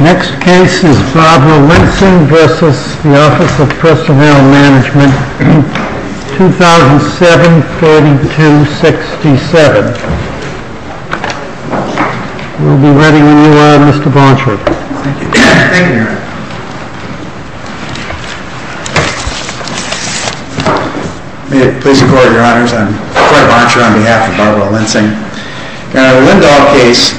2007-3267. We'll be ready when you are, Mr. Bonsher. Thank you, Your Honor. May it please the Court, Your Honors. I'm Fred Bonsher on behalf of Barbara Lensing. In our Lindahl case, we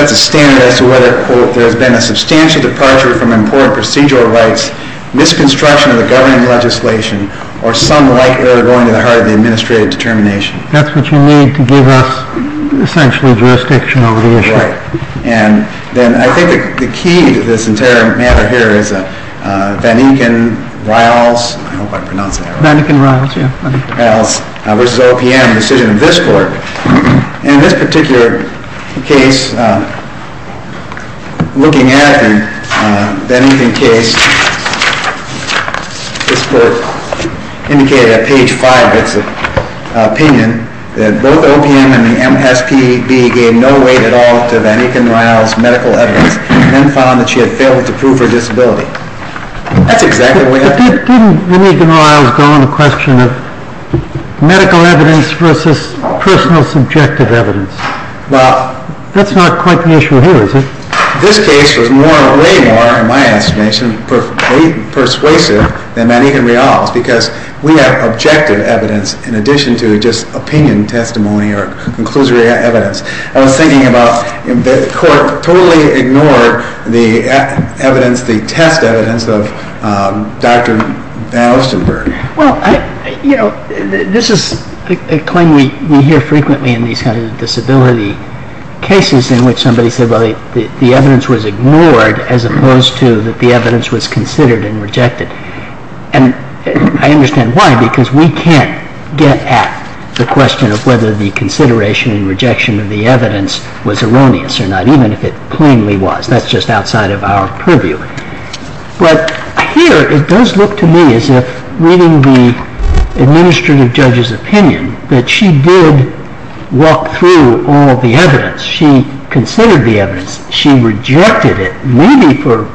have a case in which it sets a standard as to whether, quote, there has been a substantial departure from important procedural rights, misconstruction of the governing legislation, or some like error going to the heart of the administrative determination. That's what you need to give us, essentially, jurisdiction over the issue. Right. And then I think the key to this entire matter here is Van Eken-Riles, I hope I pronounced that right. Van Eken-Riles, yeah. Van Eken-Riles v. OPM, the decision of this Court. In this particular case, looking at Van Eken-Riles, this Court indicated at page 5 of its opinion that both OPM and the MSPB gave no weight at all to Van Eken-Riles' medical evidence and then found that she had failed to prove her disability. That's exactly what we have here. Didn't Van Eken-Riles go on the question of medical evidence versus personal subjective evidence? That's not quite the issue here, is it? This case was way more, in my estimation, persuasive than Van Eken-Riles because we have objective evidence in addition to just opinion testimony or conclusory evidence. I was thinking about if the Court totally ignored the evidence, the test evidence, of Dr. Baustenberg. Well, you know, this is a claim we hear frequently in these kinds of disability cases in which somebody said, well, the evidence was ignored as opposed to that the evidence was considered and rejected. And I understand why, because we can't get at the question of whether the consideration and rejection of the evidence was erroneous or not, even if it plainly was. That's just outside of our purview. But here it does look to me as if, reading the administrative judge's opinion, that she did walk through all the evidence. She considered the evidence. She rejected it, maybe for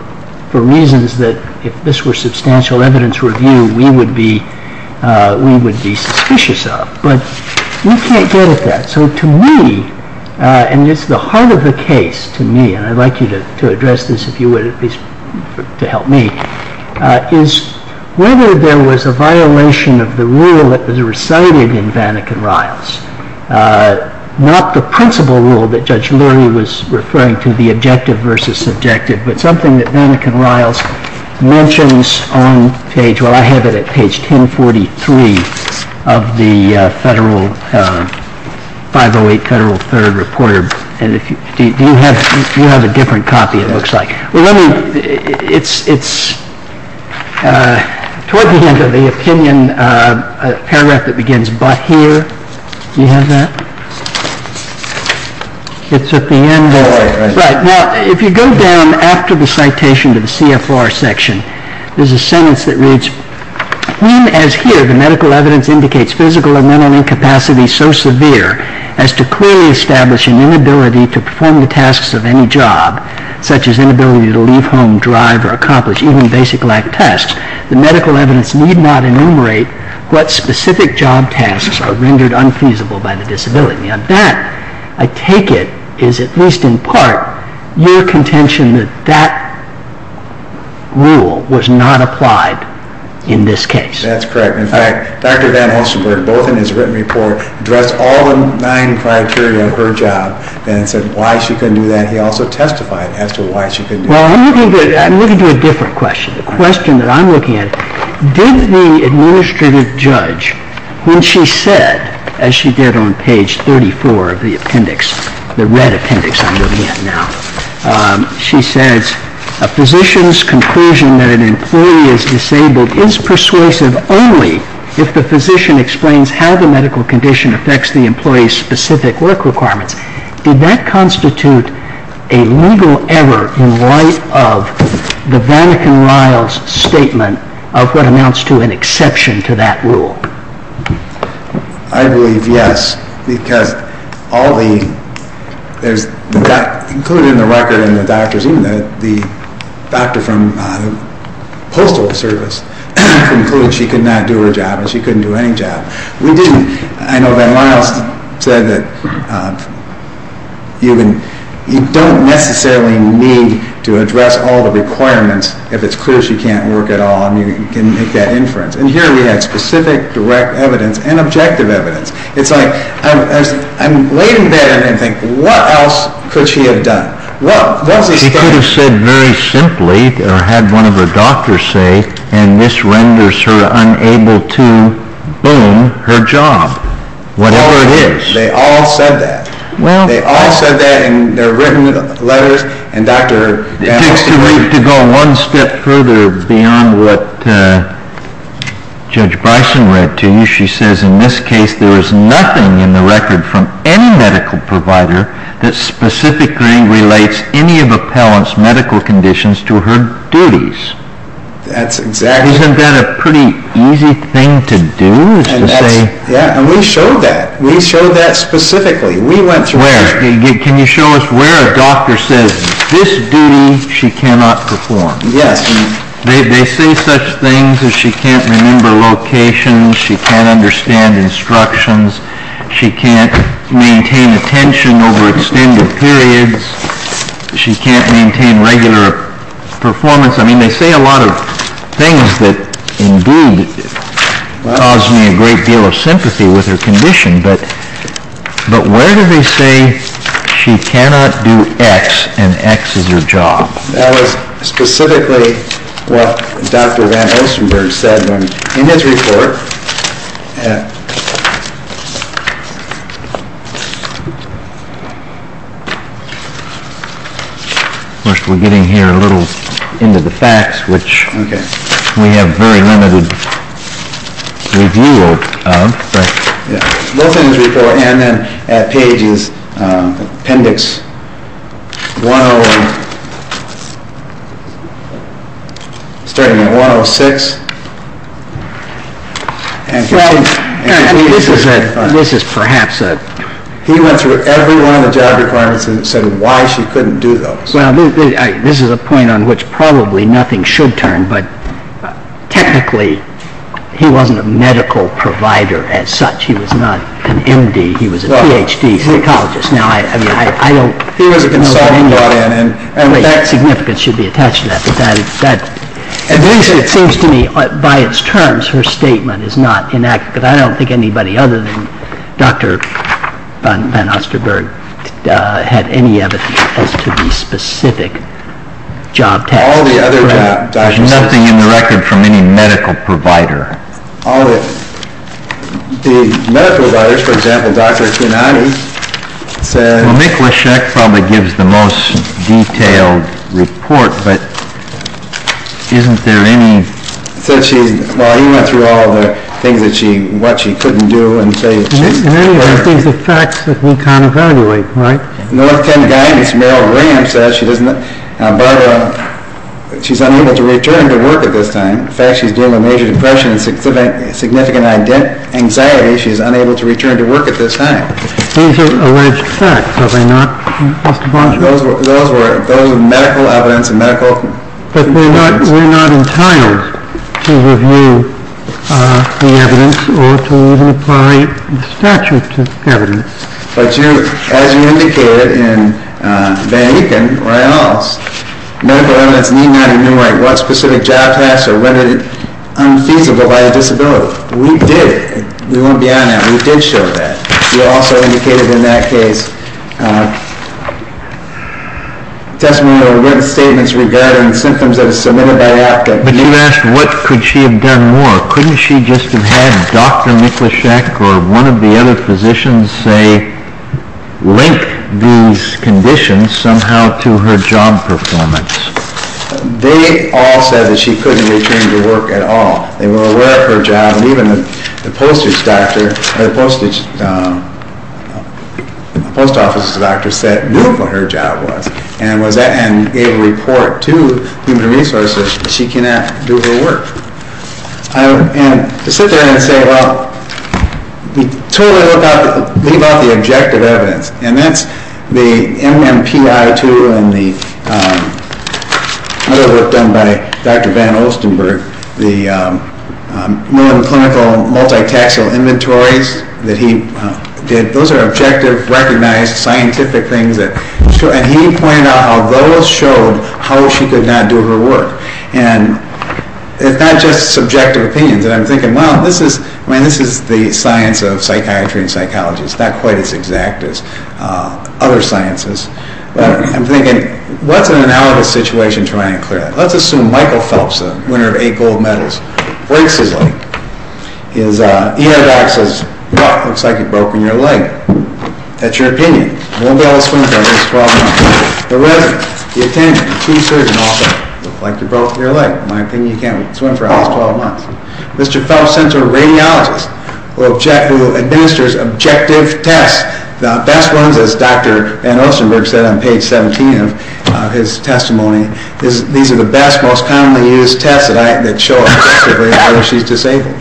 reasons that if this were substantial evidence review, we would be suspicious of. But we can't get at that. So to me, and it's the heart of the case to me, and I'd like you to address this, if you would, at least to help me, is whether there was a violation of the rule that was recited in Van Eken-Riles, not the principal rule that Judge Leary was referring to, the objective versus subjective, but something that Van Eken-Riles mentions on page, well, I have it at page 1043 of the 508 Federal Third Report. And you have a different copy, it looks like. Well, let me, it's toward the end of the opinion paragraph that begins, but here, do you have that? It's at the end. Right, now, if you go down after the citation to the CFR section, there's a sentence that reads, even as here the medical evidence indicates physical or mental incapacity so severe as to clearly establish an inability to perform the tasks of any job, such as inability to leave home, drive, or accomplish even basic lab tasks, the medical evidence need not enumerate what specific job tasks are rendered unfeasible by the disability. Now, that, I take it, is at least in part your contention that that rule was not applied in this case. That's correct. In fact, Dr. Van Helsenburg, both in his written report, addressed all the nine criteria of her job and said why she couldn't do that. He also testified as to why she couldn't do that. Well, I'm looking to a different question, the question that I'm looking at. Did the administrative judge, when she said, as she did on page 34 of the appendix, the red appendix I'm looking at now, she said a physician's conclusion that an employee is disabled is persuasive only if the physician explains how the medical condition affects the employee's specific work requirements. Did that constitute a legal error in light of the Van Ecken-Riles statement of what amounts to an exception to that rule? I believe yes, because all the, there's, included in the record in the doctor's, even the doctor from the postal service concluded she could not do her job and she couldn't do any job. We didn't, I know Van Riles said that you can, you don't necessarily need to address all the requirements if it's clear she can't work at all and you can make that inference. And here we had specific direct evidence and objective evidence. It's like, I'm waiting there and I think, what else could she have done? Well, what does he say? She could have said very simply or had one of her doctors say, and this renders her unable to, boom, her job. Whatever it is. They all said that. Well. They all said that in their written letters and Dr. Van Ecken-Riles. It takes too late to go one step further beyond what Judge Bison read to you. She says in this case there is nothing in the record from any medical provider that specifically relates any of appellant's medical conditions to her duties. That's exactly right. Isn't that a pretty easy thing to do is to say. Yeah, and we showed that. We showed that specifically. We went through. Where? Can you show us where a doctor says this duty she cannot perform? Yes. They say such things as she can't remember locations, she can't understand instructions, she can't maintain attention over extended periods, she can't maintain regular performance. I mean they say a lot of things that indeed cause me a great deal of sympathy with her condition, but where do they say she cannot do X and X is her job? That was specifically what Dr. Van Osenberg said in his report. Of course, we're getting here a little into the facts, which we have very limited review of. Yeah, both in his report and then at pages, appendix 101, starting at 106. He went through every one of the job requirements and said why she couldn't do those. Well, this is a point on which probably nothing should turn, but technically he wasn't a medical provider as such. He was not an M.D. He was a Ph.D. psychologist. He was a consultant brought in. That significance should be attached to that, but at least it seems to me by its terms her statement is not inaccurate. I don't think anybody other than Dr. Van Osenberg had any evidence as to the specific job test. All the other doctors said… There's nothing in the record from any medical provider. All the medical providers, for example, Dr. Kinati said… Well, Miklaschek probably gives the most detailed report, but isn't there any… Well, he went through all the things what she couldn't do and say… In any event, these are facts that we can't evaluate, right? In the left-hand guidance, Merrill Graham says she's unable to return to work at this time. In fact, she's dealing with major depression and significant anxiety. She's unable to return to work at this time. These are alleged facts, are they not? Those were medical evidence and medical… But we're not entitled to review the evidence or to even apply the statute to evidence. But you, as you indicated in Van Eken or Annals, medical evidence need not enumerate what specific job tests are rendered unfeasible by a disability. We did. We won't be on that. We did show that. We also indicated in that case testimony or written statements regarding symptoms of a saliva biopsy. But you asked what could she have done more. Couldn't she just have had Dr. Miklaschek or one of the other physicians, say, link these conditions somehow to her job performance? They all said that she couldn't return to work at all. They were aware of her job. And even the postage doctor or the post office doctor said knew what her job was and was able to report to human resources that she cannot do her work. And to sit there and say, well, we totally leave out the objective evidence. And that's the MMPI-2 and the other work done by Dr. Van Ostenburg, the more clinical multitaxial inventories that he did. Those are objective, recognized, scientific things. And he pointed out how those showed how she could not do her work. And it's not just subjective opinions. And I'm thinking, well, this is the science of psychiatry and psychology. It's not quite as exact as other sciences. But I'm thinking, what's an analogous situation trying to clear that? Let's assume Michael Phelps, the winner of eight gold medals, breaks his leg. His ER doc says, well, it looks like you've broken your leg. That's your opinion. You won't be able to swim for at least 12 months. The resident, the attendant, the team surgeon also look like you've broken your leg. In my opinion, you can't swim for at least 12 months. Mr. Phelps sent to a radiologist who administers objective tests. The best ones, as Dr. Van Ostenburg said on page 17 of his testimony, these are the best, most commonly used tests that show objectively whether she's disabled.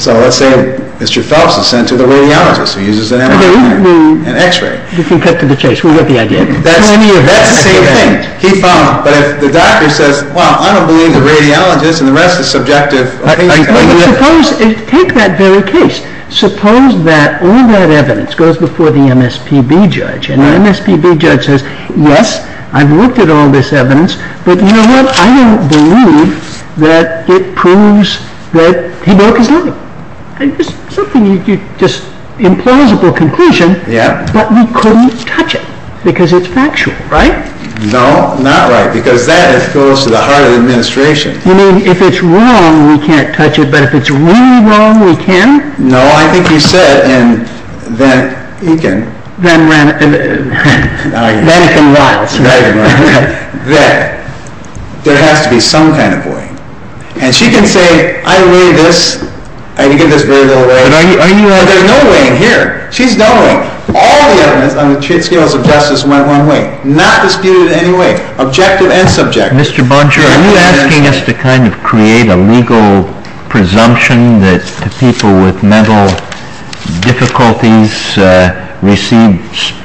So let's say Mr. Phelps is sent to the radiologist who uses an MRI and X-ray. You can cut to the chase. We get the idea. That's the same thing. But if the doctor says, well, I don't believe the radiologist and the rest is subjective. Take that very case. Suppose that all that evidence goes before the MSPB judge. And the MSPB judge says, yes, I've looked at all this evidence. But you know what? I don't believe that it proves that he broke his leg. It's just an implausible conclusion. But we couldn't touch it because it's factual, right? No, not right. Because that goes to the heart of the administration. You mean if it's wrong, we can't touch it. But if it's really wrong, we can? No, I think you said in Van Eken. Van Eken Riles. Van Eken Riles. That there has to be some kind of way. And she can say, I weigh this. I can give this very little weight. There's no weighing here. She's done weighing. All the evidence on the scales of justice went one way. Not disputed in any way. Objective and subjective. Mr. Bonchior, are you asking us to kind of create a legal presumption that people with mental difficulties receive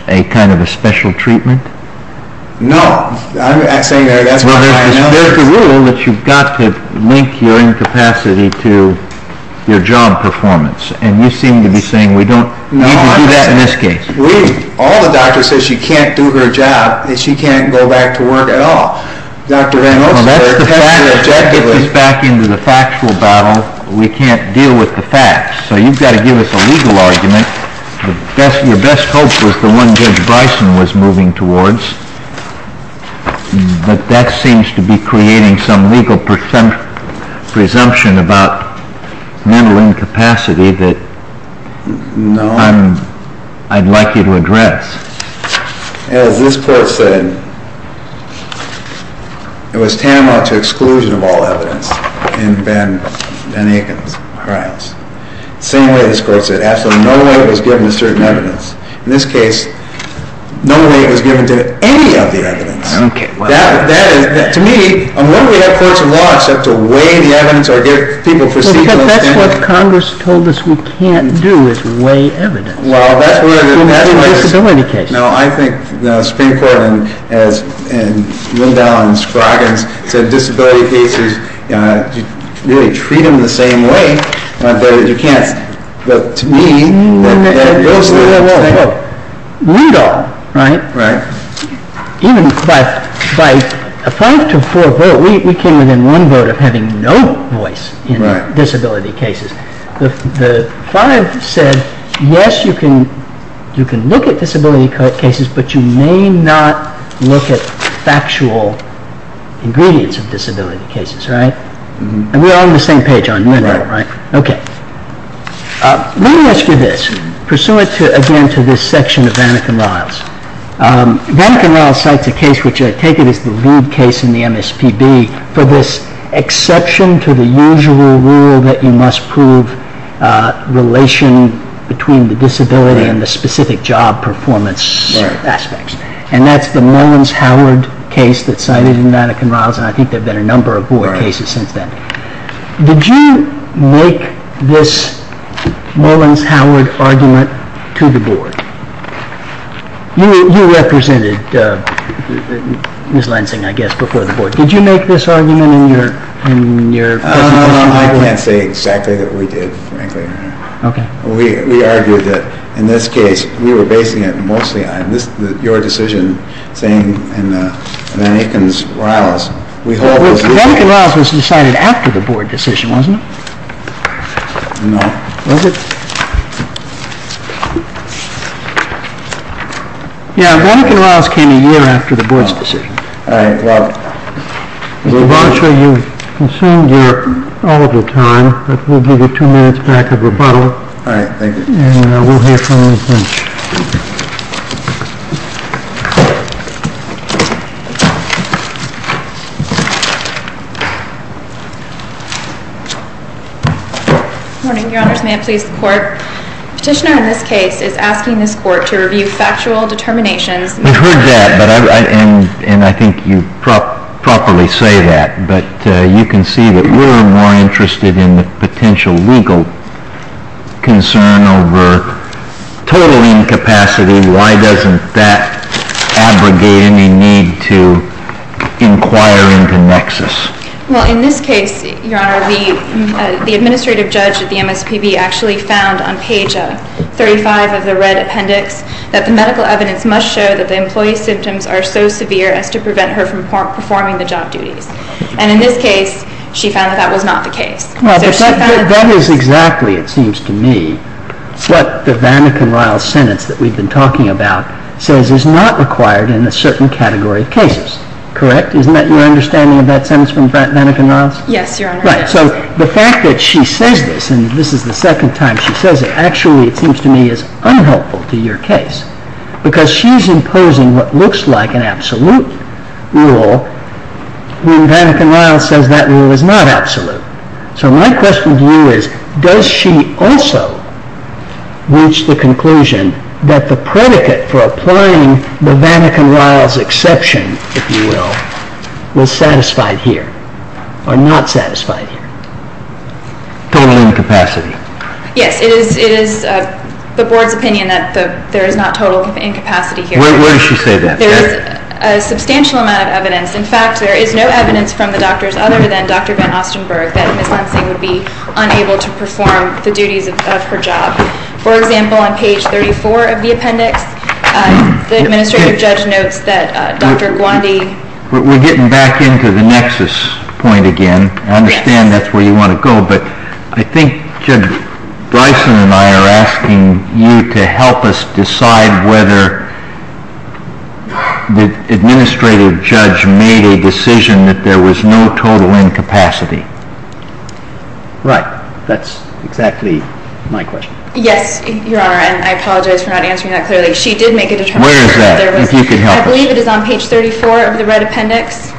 a kind of a special treatment? No. I'm saying that's what I know. Well, there's a rule that you've got to link your incapacity to your job performance. And you seem to be saying we don't need to do that in this case. All the doctors say she can't do her job. And she can't go back to work at all. Dr. Van Oster, test her objectively. Well, that's the fact. Get this back into the factual battle. We can't deal with the facts. So you've got to give us a legal argument. Your best hope was the one Judge Bryson was moving towards. But that seems to be creating some legal presumption about mental incapacity that I'd like you to address. As this court said, it was tantamount to exclusion of all evidence in Van Aken's trials. The same way this court said absolutely no way it was given to certain evidence. In this case, no way it was given to any of the evidence. I don't get what that is. To me, what do we have courts of law except to weigh the evidence or give people procedural standing? Because that's what Congress told us we can't do is weigh evidence. Well, that's where the difference is. And that's a disability case. No, I think the Supreme Court and Lindahl and Scroggins said disability cases, you really treat them the same way. But you can't. But to me, what Ed goes through, Read all, right? Right. Even by a five to four vote, we came within one vote of having no voice in disability cases. The five said, yes, you can look at disability cases, but you may not look at factual ingredients of disability cases, right? And we're all on the same page on Lindahl, right? Right. Okay. Let me ask you this. Pursuant, again, to this section of Van Aken Riles. Van Aken Riles cites a case which I take it is the lead case in the MSPB for this exception to the usual rule that you must prove relation between the disability and the specific job performance aspects. And that's the Mullins-Howard case that's cited in Van Aken Riles, and I think there have been a number of board cases since then. Did you make this Mullins-Howard argument to the board? You represented Ms. Lansing, I guess, before the board. Did you make this argument in your presentation? I can't say exactly that we did, frankly. Okay. We argued that in this case, we were basing it mostly on your decision, saying in Van Aken Riles, we hold it was the same. Van Aken Riles was decided after the board decision, wasn't it? No. Was it? Yeah, Van Aken Riles came a year after the board's decision. All right. Well, we'll move on. Mr. Barsher, you've consumed all of your time, but we'll give you two minutes back of rebuttal. All right. Thank you. And we'll hear from you in a pinch. Good morning, Your Honors. May it please the Court. Petitioner in this case is asking this Court to review factual determinations. We've heard that, and I think you properly say that. But you can see that we're more interested in the potential legal concern over total incapacity. Why doesn't that abrogate any need to inquire into nexus? Well, in this case, Your Honor, the administrative judge at the MSPB actually found on page 35 of the red appendix that the medical evidence must show that the employee's symptoms are so severe as to prevent her from performing the job duties. And in this case, she found that that was not the case. That is exactly, it seems to me, what the Van Aken Riles sentence that we've been talking about says is not required in a certain category of cases. Correct? Isn't that your understanding of that sentence from Van Aken Riles? Yes, Your Honor. Right. So the fact that she says this, and this is the second time she says it, actually, it seems to me, is unhelpful to your case because she's imposing what looks like an absolute rule when Van Aken Riles says that rule is not absolute. So my question to you is, does she also reach the conclusion that the predicate for applying the Van Aken Riles exception, if you will, was satisfied here or not satisfied here? Total incapacity. Yes, it is the Board's opinion that there is not total incapacity here. Where does she say that? There is a substantial amount of evidence. In fact, there is no evidence from the doctors other than Dr. Van Ostenburg that Ms. Lansing would be unable to perform the duties of her job. For example, on page 34 of the appendix, the administrative judge notes that Dr. Gwandi... We're getting back into the nexus point again. I understand that's where you want to go, but I think Judge Bryson and I are asking you to help us decide whether the administrative judge made a decision that there was no total incapacity. Right. That's exactly my question. Yes, Your Honor, and I apologize for not answering that clearly. She did make a determination. Where is that? If you could help us. I believe it is on page 34 of the red appendix.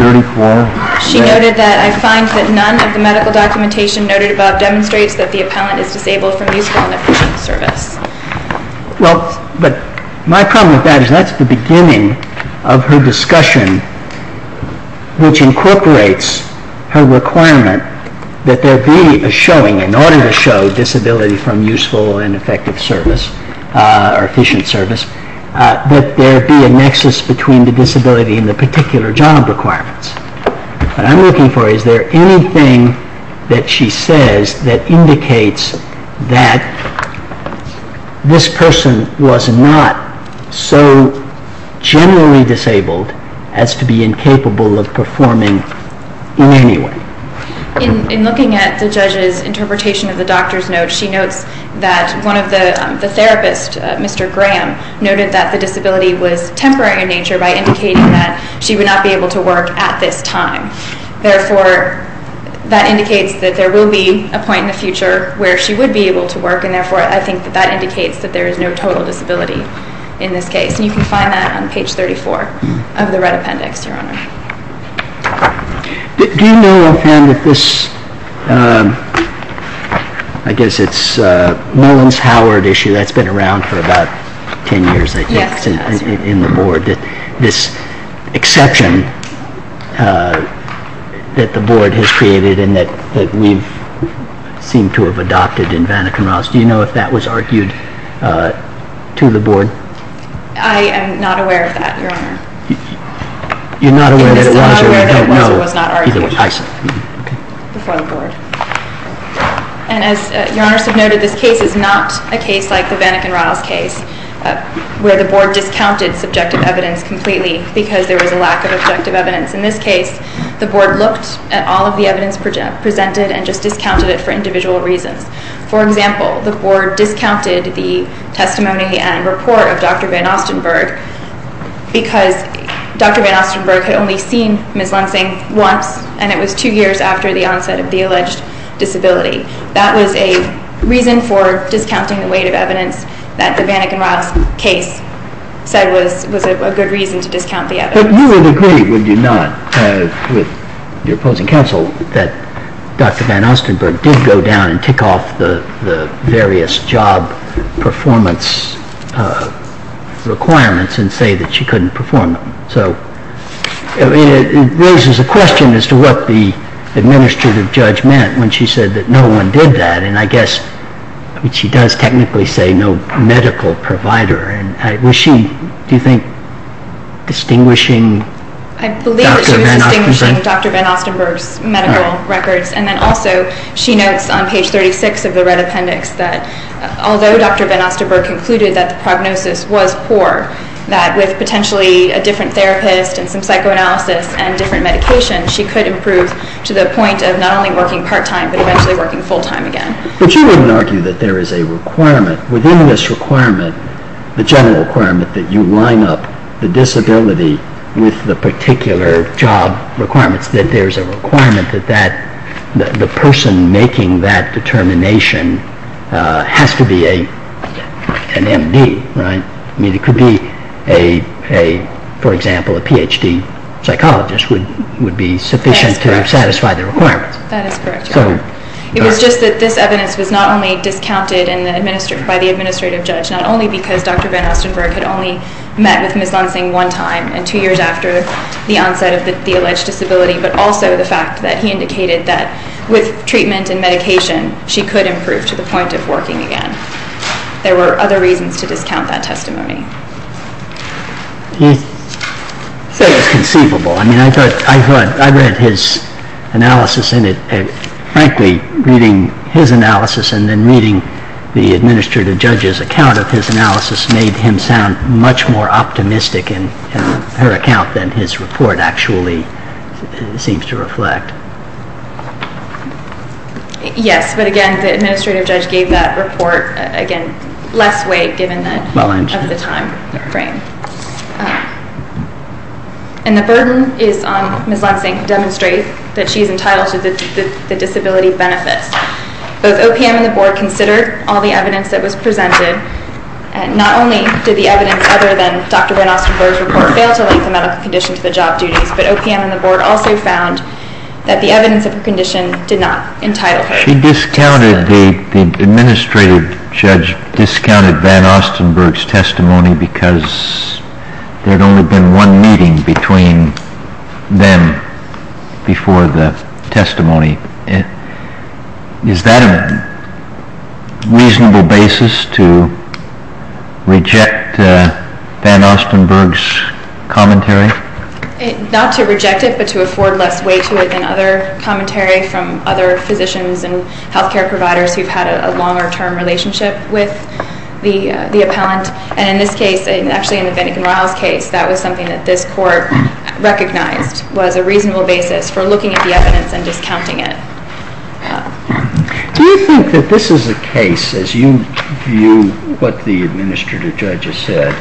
34. She noted that, I find that none of the medical documentation noted above demonstrates that the appellant is disabled from useful and efficient service. Well, but my problem with that is that's the beginning of her discussion which incorporates her requirement that there be a showing in order to show disability from useful and effective service or efficient service, that there be a nexus between the disability and the particular job requirements. What I'm looking for is there anything that she says that indicates that this person was not so generally disabled as to be incapable of performing in any way. In looking at the judge's interpretation of the doctor's notes, she notes that one of the therapists, Mr. Graham, noted that the disability was temporary in nature by indicating that she would not be able to work at this time. Therefore, that indicates that there will be a point in the future where she would be able to work, and therefore I think that that indicates that there is no total disability in this case. And you can find that on page 34 of the Red Appendix, Your Honor. Do you know if this, I guess it's a Mullins-Howard issue, that's been around for about 10 years, I think, in the Board, that this exception that the Board has created and that we seem to have adopted in Vanniken-Ross, do you know if that was argued to the Board? I am not aware of that, Your Honor. You're not aware that it was or you don't know? I'm not aware that it was or was not argued before the Board. And as Your Honors have noted, this case is not a case like the Vanniken-Ross case where the Board discounted subjective evidence completely because there was a lack of objective evidence. In this case, the Board looked at all of the evidence presented and just discounted it for individual reasons. For example, the Board discounted the testimony and report of Dr. Van Ostenburg because Dr. Van Ostenburg had only seen Ms. Lensing once and it was two years after the onset of the alleged disability. That was a reason for discounting the weight of evidence that the Vanniken-Ross case said was a good reason to discount the evidence. But you would agree, would you not, with your opposing counsel, that Dr. Van Ostenburg did go down and tick off the various job performance requirements and say that she couldn't perform them? So it raises a question as to what the administrative judge meant when she said that no one did that. And I guess she does technically say no medical provider. Was she, do you think, distinguishing Dr. Van Ostenburg? I don't think so. I don't think Dr. Van Ostenburg's medical records. And then also she notes on page 36 of the red appendix that although Dr. Van Ostenburg concluded that the prognosis was poor, that with potentially a different therapist and some psychoanalysis and different medication she could improve to the point of not only working part-time but eventually working full-time again. But you wouldn't argue that there is a requirement within this requirement, the general requirement that you line up the disability with the particular job requirements, that there is a requirement that the person making that determination has to be an M.D., right? I mean it could be, for example, a Ph.D. psychologist would be sufficient to satisfy the requirement. That is correct. It was just that this evidence was not only discounted by the administrative judge, not only because Dr. Van Ostenburg had only met with Ms. Lansing one time and two years after the onset of the alleged disability, but also the fact that he indicated that with treatment and medication she could improve to the point of working again. There were other reasons to discount that testimony. He said it was conceivable. I mean I thought, I read his analysis and frankly reading his analysis and then reading the administrative judge's account of his analysis made him sound much more optimistic in her account than his report actually seems to reflect. Yes, but again the administrative judge gave that report, again, less weight given the time frame. And the burden is on Ms. Lansing to demonstrate that she is entitled to the disability benefits. Both OPM and the Board considered all the evidence that was presented. Not only did the evidence other than Dr. Van Ostenburg's report fail to link the medical condition to the job duties, but OPM and the Board also found that the evidence of her condition did not entitle her. She discounted, the administrative judge discounted Van Ostenburg's testimony because there had only been one meeting between them before the testimony. Is that a reasonable basis to reject Van Ostenburg's commentary? Not to reject it, but to afford less weight to it than other commentary from other physicians and health care providers who've had a longer term relationship with the appellant. And in this case, actually in the Bennigan-Riles case, that was something that this court recognized was a reasonable basis for looking at the evidence and discounting it. Do you think that this is a case, as you view what the administrative judge has said,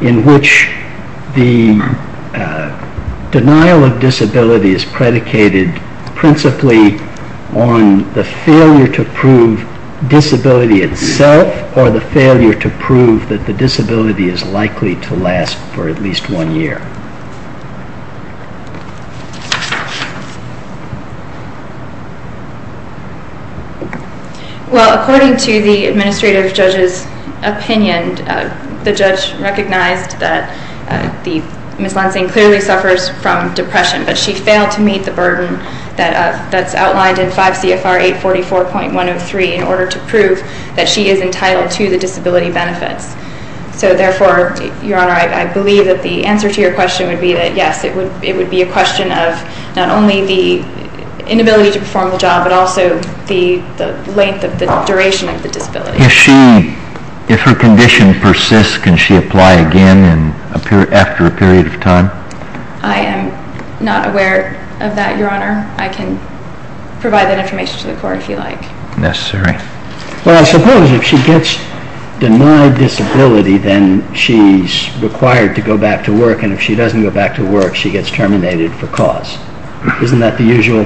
in which the denial of disability is predicated principally on the failure to prove disability itself or the failure to prove that the disability is likely to last for at least one year? Well, according to the administrative judge's opinion, the judge recognized that Ms. Lansing clearly suffers from depression, but she failed to meet the burden that's outlined in 5 CFR 844.103 in order to prove that she is entitled to the disability benefits. So therefore, Your Honor, I believe that the answer to your question would be that yes, it would be a question of not only the inability to perform the job, but also the length of the duration of the disability. If her condition persists, can she apply again after a period of time? I am not aware of that, Your Honor. I can provide that information to the court if you like. Well, I suppose if she gets denied disability, then she's required to go back to work, and if she doesn't go back to work, she gets terminated for cause. Isn't that the usual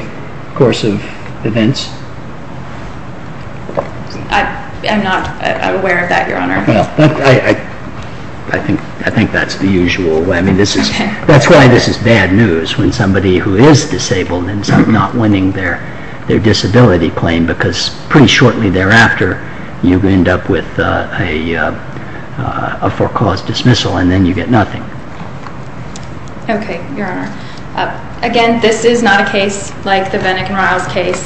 course of events? I'm not aware of that, Your Honor. I think that's the usual way. That's why this is bad news when somebody who is disabled ends up not winning their disability claim because pretty shortly thereafter you end up with a for-cause dismissal, and then you get nothing. Okay, Your Honor. Again, this is not a case like the Bennigan-Riles case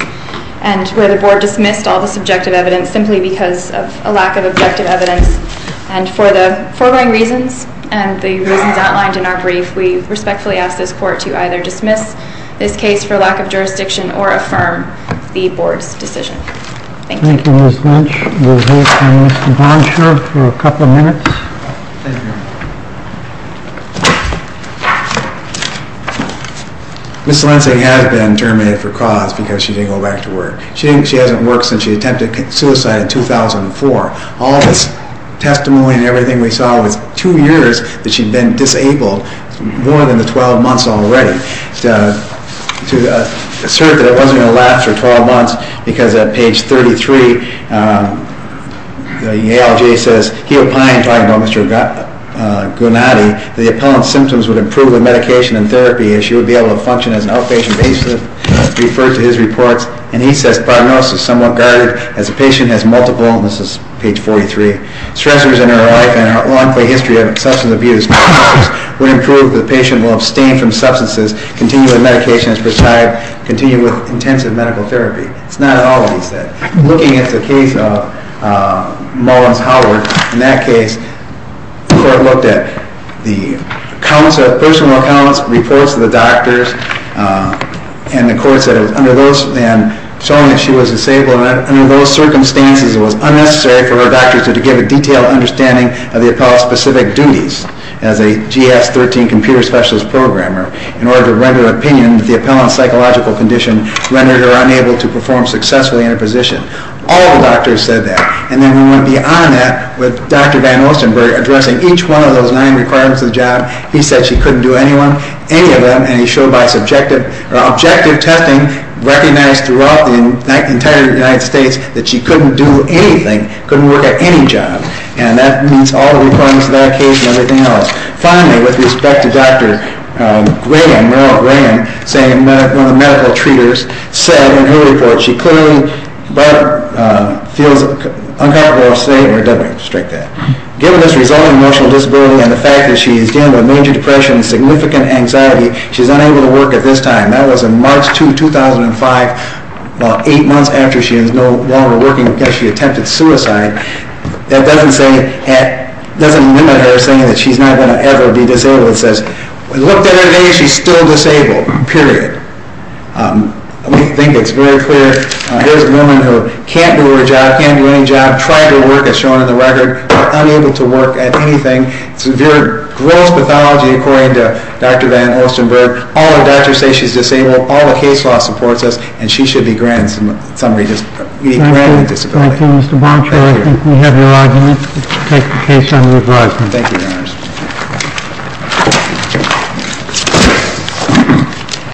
where the board dismissed all the subjective evidence simply because of a lack of objective evidence. And for the following reasons and the reasons outlined in our brief, we respectfully ask this court to either dismiss this case for lack of jurisdiction or affirm the board's decision. Thank you. Thank you, Ms. Lynch. We'll hear from Mr. Bonsher for a couple of minutes. Thank you. Ms. Lensing has been terminated for cause because she didn't go back to work. She hasn't worked since she attempted suicide in 2004. All this testimony and everything we saw was two years that she'd been disabled, more than the 12 months already. To assert that it wasn't going to last for 12 months because at page 33, the ALJ says, he opined, talking about Mr. Gunati, that the appellant's symptoms would improve with medication and therapy and she would be able to function as an outpatient babysitter, referred to his reports. And he says, the prognosis is somewhat guarded as the patient has multiple, and this is page 43, stressors in her life and a long history of substance abuse would improve. The patient will abstain from substances, continue with medication as prescribed, continue with intensive medical therapy. It's not at all what he said. Looking at the case of Mullins-Howard, in that case, the court looked at the personal accounts, reports to the doctors, and the court said that under those circumstances, it was unnecessary for her doctors to give a detailed understanding of the appellant's specific duties as a GS-13 computer specialist programmer in order to render opinion that the appellant's psychological condition rendered her unable to perform successfully in her position. All the doctors said that. And then we want to be on that with Dr. Van Ostenburg, addressing each one of those nine requirements of the job. He said she couldn't do any of them, and he showed by subjective or objective testing, recognized throughout the entire United States that she couldn't do anything, couldn't work at any job. And that means all the requirements of that case and everything else. Finally, with respect to Dr. Graham, Merle Graham, one of the medical treaters, said in her report, she clearly feels uncomfortable or safe or doesn't restrict that. Given this resulting emotional disability and the fact that she is dealing with major depression and significant anxiety, she's unable to work at this time. That was in March 2005, about eight months after she was no longer working because she attempted suicide. That doesn't limit her saying that she's not going to ever be disabled. It says, looked at her today, she's still disabled, period. I think it's very clear. Here's a woman who can't do her job, can't do any job, tried to work as shown in the record, but unable to work at anything. Severe, gross pathology according to Dr. Van Ostenburg. All the doctors say she's disabled. All the case law supports us, and she should be granted disability. Thank you. Thank you, Mr. Blanchard. I think we have your argument. Let's take the case under advisement. Thank you, Your Honors.